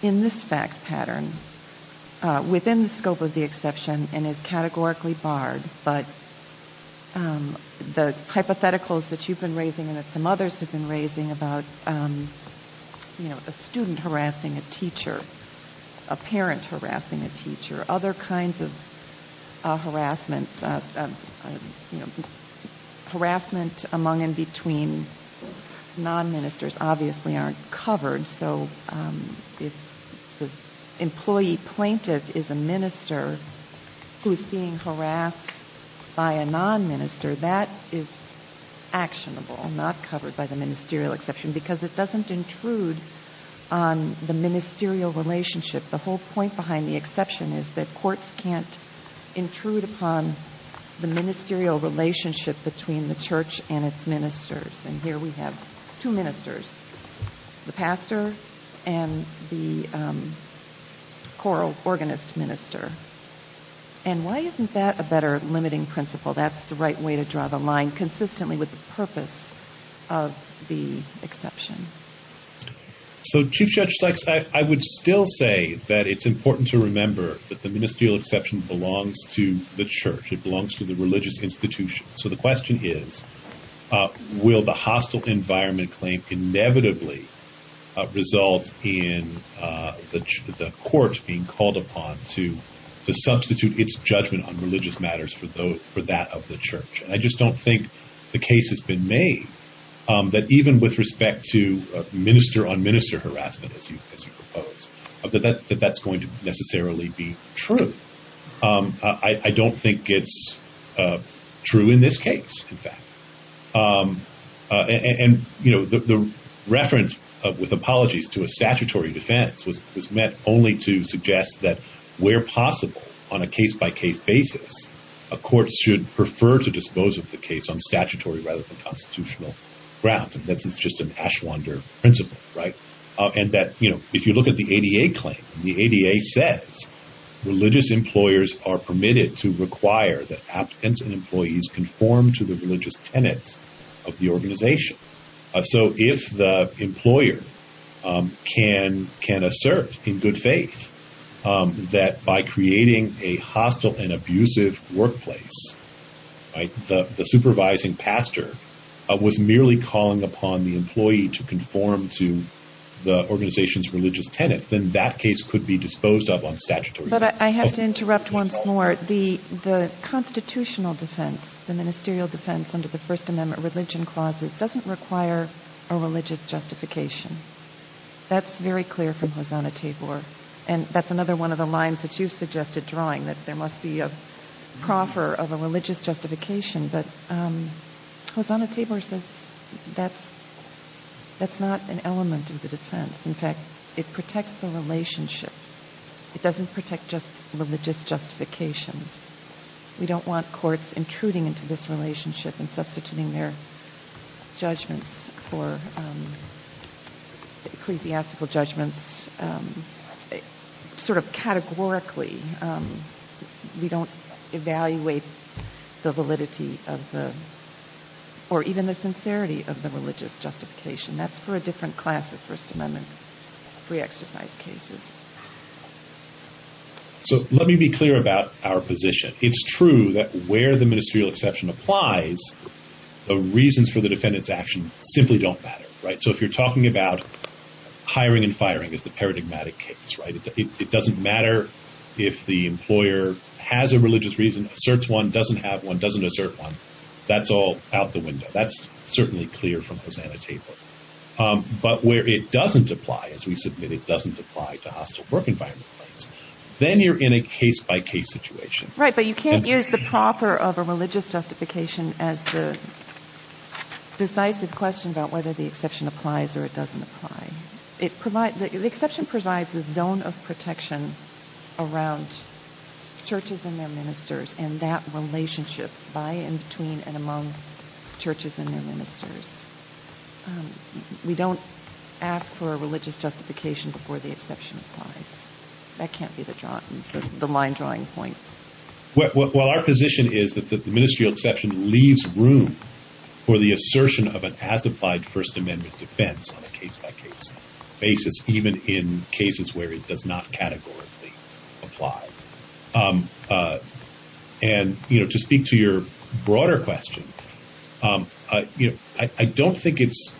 in this fact pattern, within the scope of the exception and is categorically barred, but the hypotheticals that you've been raising and that some others have been raising about a student harassing a teacher, a parent harassing a teacher, other kinds of harassment among and between non-ministers obviously aren't covered. So if the employee plaintiff is a minister who is being harassed by a non-minister, that is actionable, not covered by the ministerial exception, because it doesn't intrude on the ministerial relationship. The whole point behind the exception is that courts can't intrude upon the ministerial relationship between the church and its ministers. And here we have two ministers, the pastor and the choral organist minister. And why isn't that a better limiting principle? That's the right way to draw the line consistently with the exception. So Chief Judge Sykes, I would still say that it's important to remember that the ministerial exception belongs to the church. It belongs to the religious institution. So the question is, will the hostile environment claim inevitably result in the court being called upon to substitute its judgment on religious matters for that of the church? And I just don't think the case has been made that even with respect to minister-on-minister harassment, as you propose, that that's going to necessarily be true. I don't think it's true in this case, in fact. And the reference, with apologies, to a statutory defense was meant only to suggest that where possible, on a case-by-case basis, a court should prefer to dispose of the case on statutory rather than constitutional grounds. And this is just an Ashwander principle, right? And that if you look at the ADA claim, the ADA says religious employers are permitted to require that applicants and employees conform to the religious tenets of the organization. So if the employer can assert in good faith that by creating a hostile and abusive workplace, the supervising pastor was merely calling upon the employee to conform to the organization's religious tenets, then that case could be disposed of on statutory grounds. But I have to interrupt once more. The constitutional defense, the ministerial defense under the First Amendment religion clauses, doesn't require a religious justification. That's very clear from Hosanna-Tabor. And that's another one of the lines that you suggested drawing, that there must be a proffer of a religious justification. But Hosanna-Tabor says that's not an element of the defense. In fact, it protects the relationship. It doesn't protect just religious justifications. We don't want courts intruding into this relationship and substituting their judgments for ecclesiastical judgments sort of categorically. We don't evaluate the validity of the, or even the sincerity of the religious justification. That's for a different class of First Amendment pre-exercise cases. So let me be clear about our position. It's true that where the ministerial exception applies, the reasons for the defendant's action simply don't matter. So if you're talking about hiring and firing as the paradigmatic case, it doesn't matter if the employer has a religious reason, asserts one, doesn't have one, doesn't assert one. That's all out the window. That's where it doesn't apply. As we submit, it doesn't apply to hostile work environment claims. Then you're in a case-by-case situation. Right, but you can't use the proffer of a religious justification as the decisive question about whether the exception applies or it doesn't apply. The exception provides a zone of protection around churches and their ministers and that asks for a religious justification before the exception applies. That can't be the line drawing point. Well, our position is that the ministerial exception leaves room for the assertion of an as-applied First Amendment defense on a case-by-case basis, even in cases where it does not categorically apply. To speak to your broader question, I don't think it's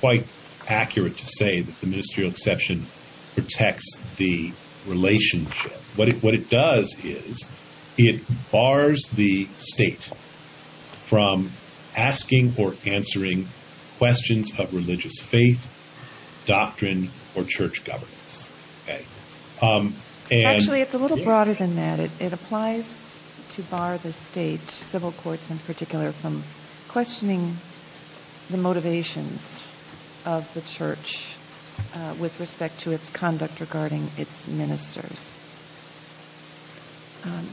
quite accurate to say that the ministerial exception protects the relationship. What it does is it bars the state from asking or answering questions of religious faith, doctrine, or church governance. Okay. Actually, it's a little broader than that. It applies to bar the state, civil courts in particular, from questioning the motivations of the church with respect to its conduct regarding its ministers.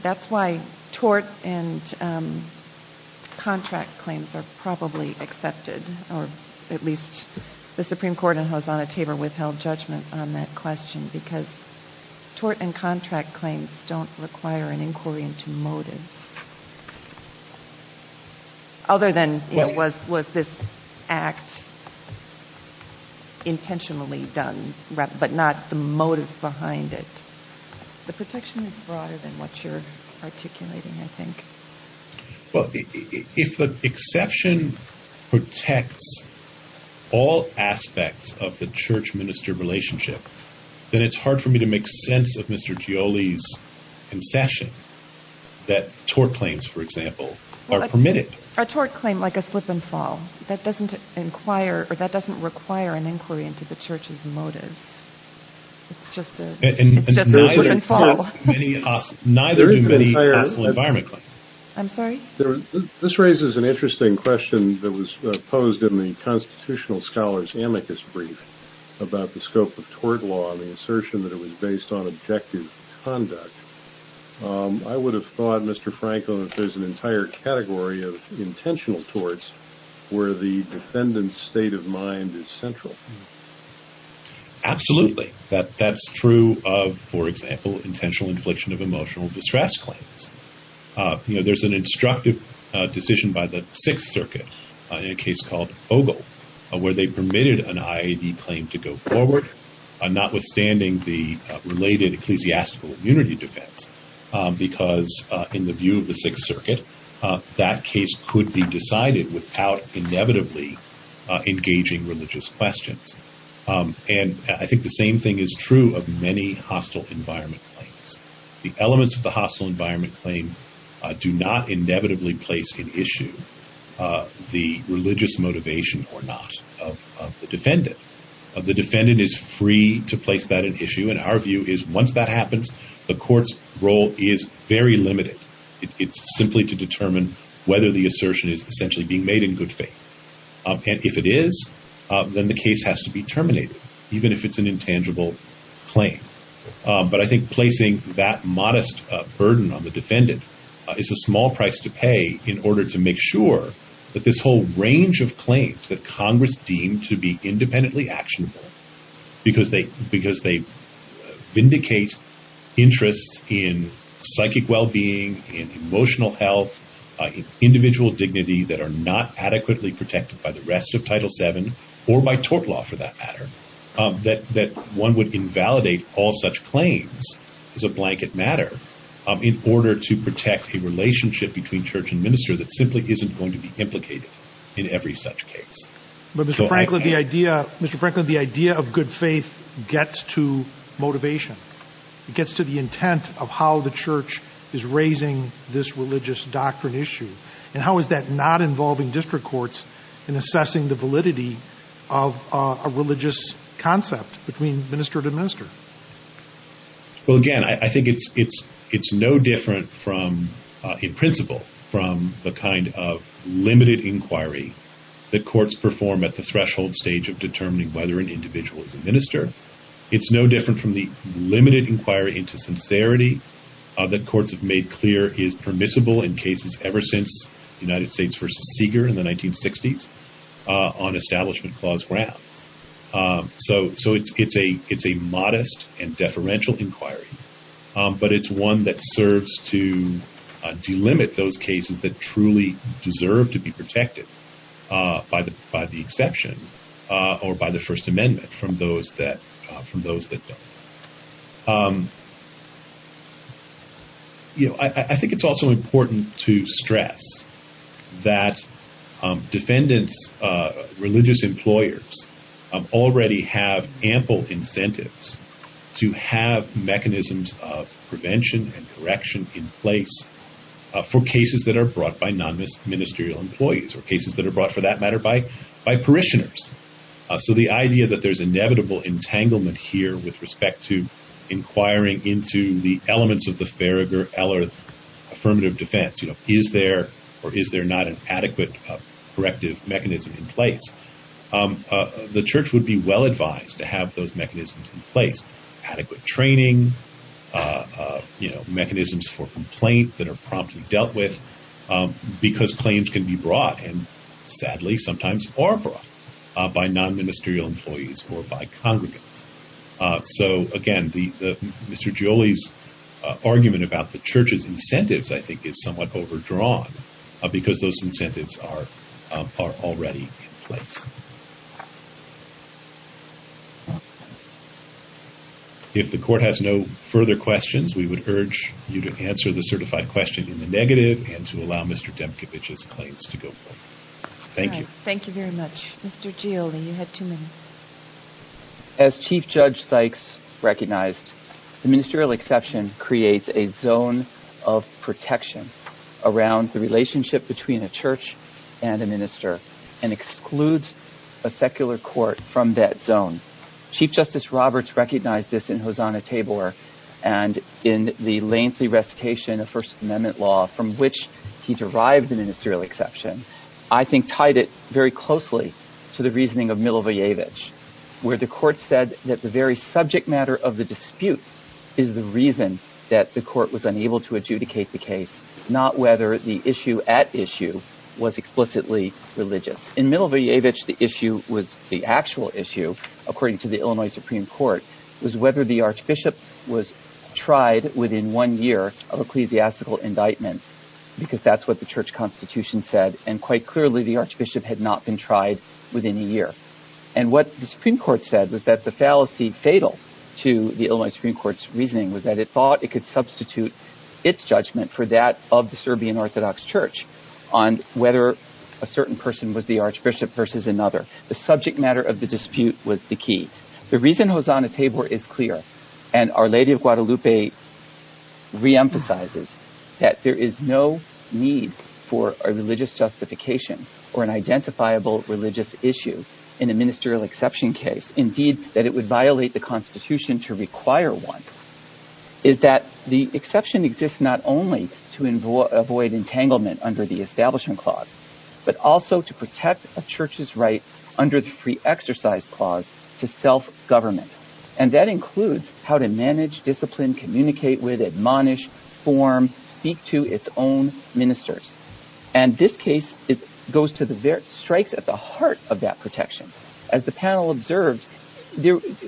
That's why tort and contract claims are probably accepted, or at least the Supreme Court and Hosanna Tabor withheld judgment on that because tort and contract claims don't require an inquiry into motive. Other than was this act intentionally done, but not the motive behind it. The protection is broader than what you're articulating, I think. Well, if the exception protects all aspects of the church-minister relationship, then it's hard for me to make sense of Mr. Gioli's concession that tort claims, for example, are permitted. A tort claim like a slip and fall, that doesn't require an inquiry into the church's motives. It's just a slip and fall. Neither do many hostile environment claims. I'm sorry? This raises an interesting question that was posed in the Constitutional Scholars' amicus brief about the scope of tort law and the assertion that it was based on objective conduct. I would have thought, Mr. Franklin, that there's an entire category of intentional torts where the defendant's state of mind is central. Absolutely. That's true of, for example, intentional infliction of emotional distress claims. There's an instructive decision by the Sixth Circuit in a case called Ogle, where they permitted an IAD claim to go forward, notwithstanding the related ecclesiastical immunity defense, because in the view of the Sixth Circuit, that case could be decided without inevitably engaging religious questions. And I think the same thing is true of many hostile environment claims. The elements of the hostile environment claim do not inevitably place in issue the religious motivation or not of the defendant. The defendant is free to place that in issue, and our view is once that happens, the court's role is very limited. It's simply to determine whether the assertion is essentially being made in good faith. And if it is, then the case has to be terminated, even if it's an intangible claim. But I think placing that modest burden on the defendant is a small price to pay in order to make sure that this whole range of claims that Congress deemed to be independently actionable, because they vindicate interests in psychic well-being, in emotional health, individual dignity that are not adequately protected by the rest of Title VII, or by tort law for that matter, that one would invalidate all such claims as a blanket matter in order to protect a relationship between church and minister that simply isn't going to be implicated in every such case. But Mr. Franklin, the idea of good faith gets to motivation. It gets to the intent of how the church is raising this religious doctrine issue. And how is that not involving district courts in assessing the validity of a religious concept between minister to minister? Well, again, I think it's no different in principle from the kind of limited inquiry that courts perform at the threshold stage of determining whether an individual is a minister, it's no different from the limited inquiry into sincerity that courts have made clear is permissible in cases ever since the United States versus Seeger in the 1960s on establishment clause grounds. So it's a modest and deferential inquiry, but it's one that serves to delimit those cases that truly deserve to be protected by the exception or by the First from those that don't. I think it's also important to stress that defendants, religious employers already have ample incentives to have mechanisms of prevention and correction in place for cases that are brought by non-ministerial employees or cases that are entanglement here with respect to inquiring into the elements of the Affirmative Defense. You know, is there or is there not an adequate corrective mechanism in place? The church would be well advised to have those mechanisms in place, adequate training, mechanisms for complaint that are promptly dealt with because claims can be brought and sometimes are brought by non-ministerial employees or by congregants. So again, Mr. Gioli's argument about the church's incentives I think is somewhat overdrawn because those incentives are already in place. If the court has no further questions, we would urge you to answer the certified question in the Thank you very much. Mr. Gioli, you had two minutes. As Chief Judge Sykes recognized, the ministerial exception creates a zone of protection around the relationship between a church and a minister and excludes a secular court from that zone. Chief Justice Roberts recognized this in Hosanna-Tabor and in the lengthy recitation of First Amendment law from which he derived the ministerial exception, I think tied it very closely to the reasoning of Milošević, where the court said that the very subject matter of the dispute is the reason that the court was unable to adjudicate the case, not whether the issue at issue was explicitly religious. In Milošević, the issue was the actual issue, according to the indictment, because that's what the church constitution said. And quite clearly, the archbishop had not been tried within a year. And what the Supreme Court said was that the fallacy fatal to the Illinois Supreme Court's reasoning was that it thought it could substitute its judgment for that of the Serbian Orthodox Church on whether a certain person was the archbishop versus another. The subject matter of the dispute was the key. The reason Hosanna-Tabor is clear, and Our Lady of Guadalupe reemphasizes that there is no need for a religious justification or an identifiable religious issue in a ministerial exception case, indeed, that it would violate the constitution to require one, is that the exception exists not only to avoid entanglement under the establishment clause, but also to protect a church's right under the free exercise clause to self-government. And that includes how to manage, discipline, communicate with, admonish, form, speak to its own ministers. And this case strikes at the heart of that protection. As the panel observed,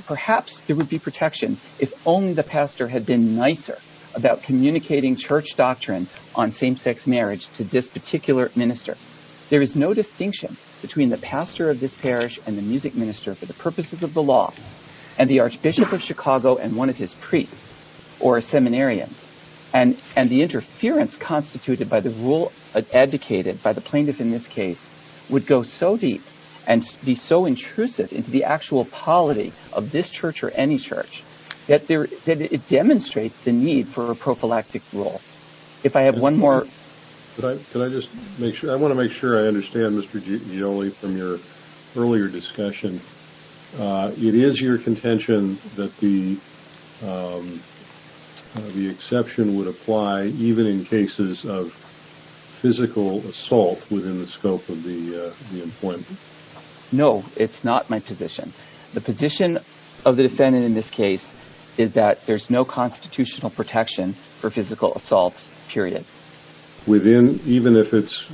perhaps there would be protection if only the pastor had been nicer about communicating church doctrine on same-sex marriage to this particular minister. There is no And the Archbishop of Chicago and one of his priests, or a seminarian, and the interference constituted by the rule advocated by the plaintiff in this case would go so deep and be so intrusive into the actual polity of this church or any church that it demonstrates the need for a prophylactic rule. If I have one more... Can I just make sure, I want to make sure I understand from your earlier discussion, it is your contention that the exception would apply even in cases of physical assault within the scope of the appointment? No, it's not my position. The position of the defendant in this case is that there's no constitutional protection for physical assaults, period. Within, even if it's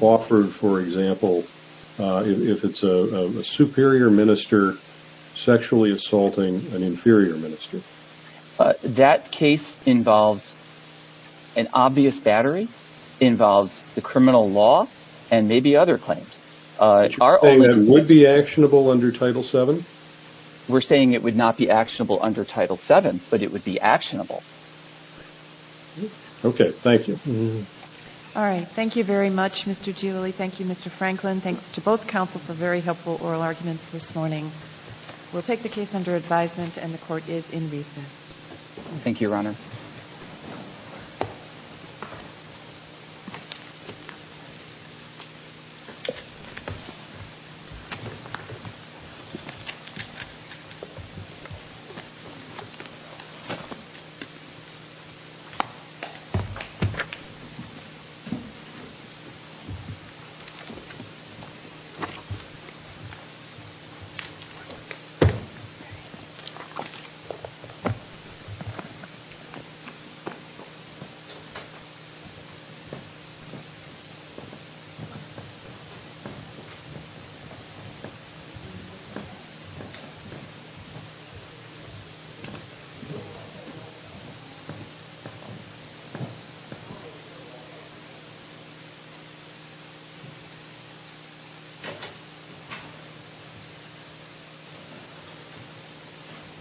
offered, for example, if it's a superior minister sexually assaulting an inferior minister? That case involves an obvious battery, involves the criminal law, and maybe other claims. Would that be actionable under Title VII? We're saying it would not be actionable under Title VII, but it would be actionable. Okay, thank you. All right, thank you very much, Mr. Giuli. Thank you, Mr. Franklin. Thanks to both counsel for very helpful oral arguments this morning. We'll take the case under advisement and the court is in recess. Thank you, Your Honor. Thank you.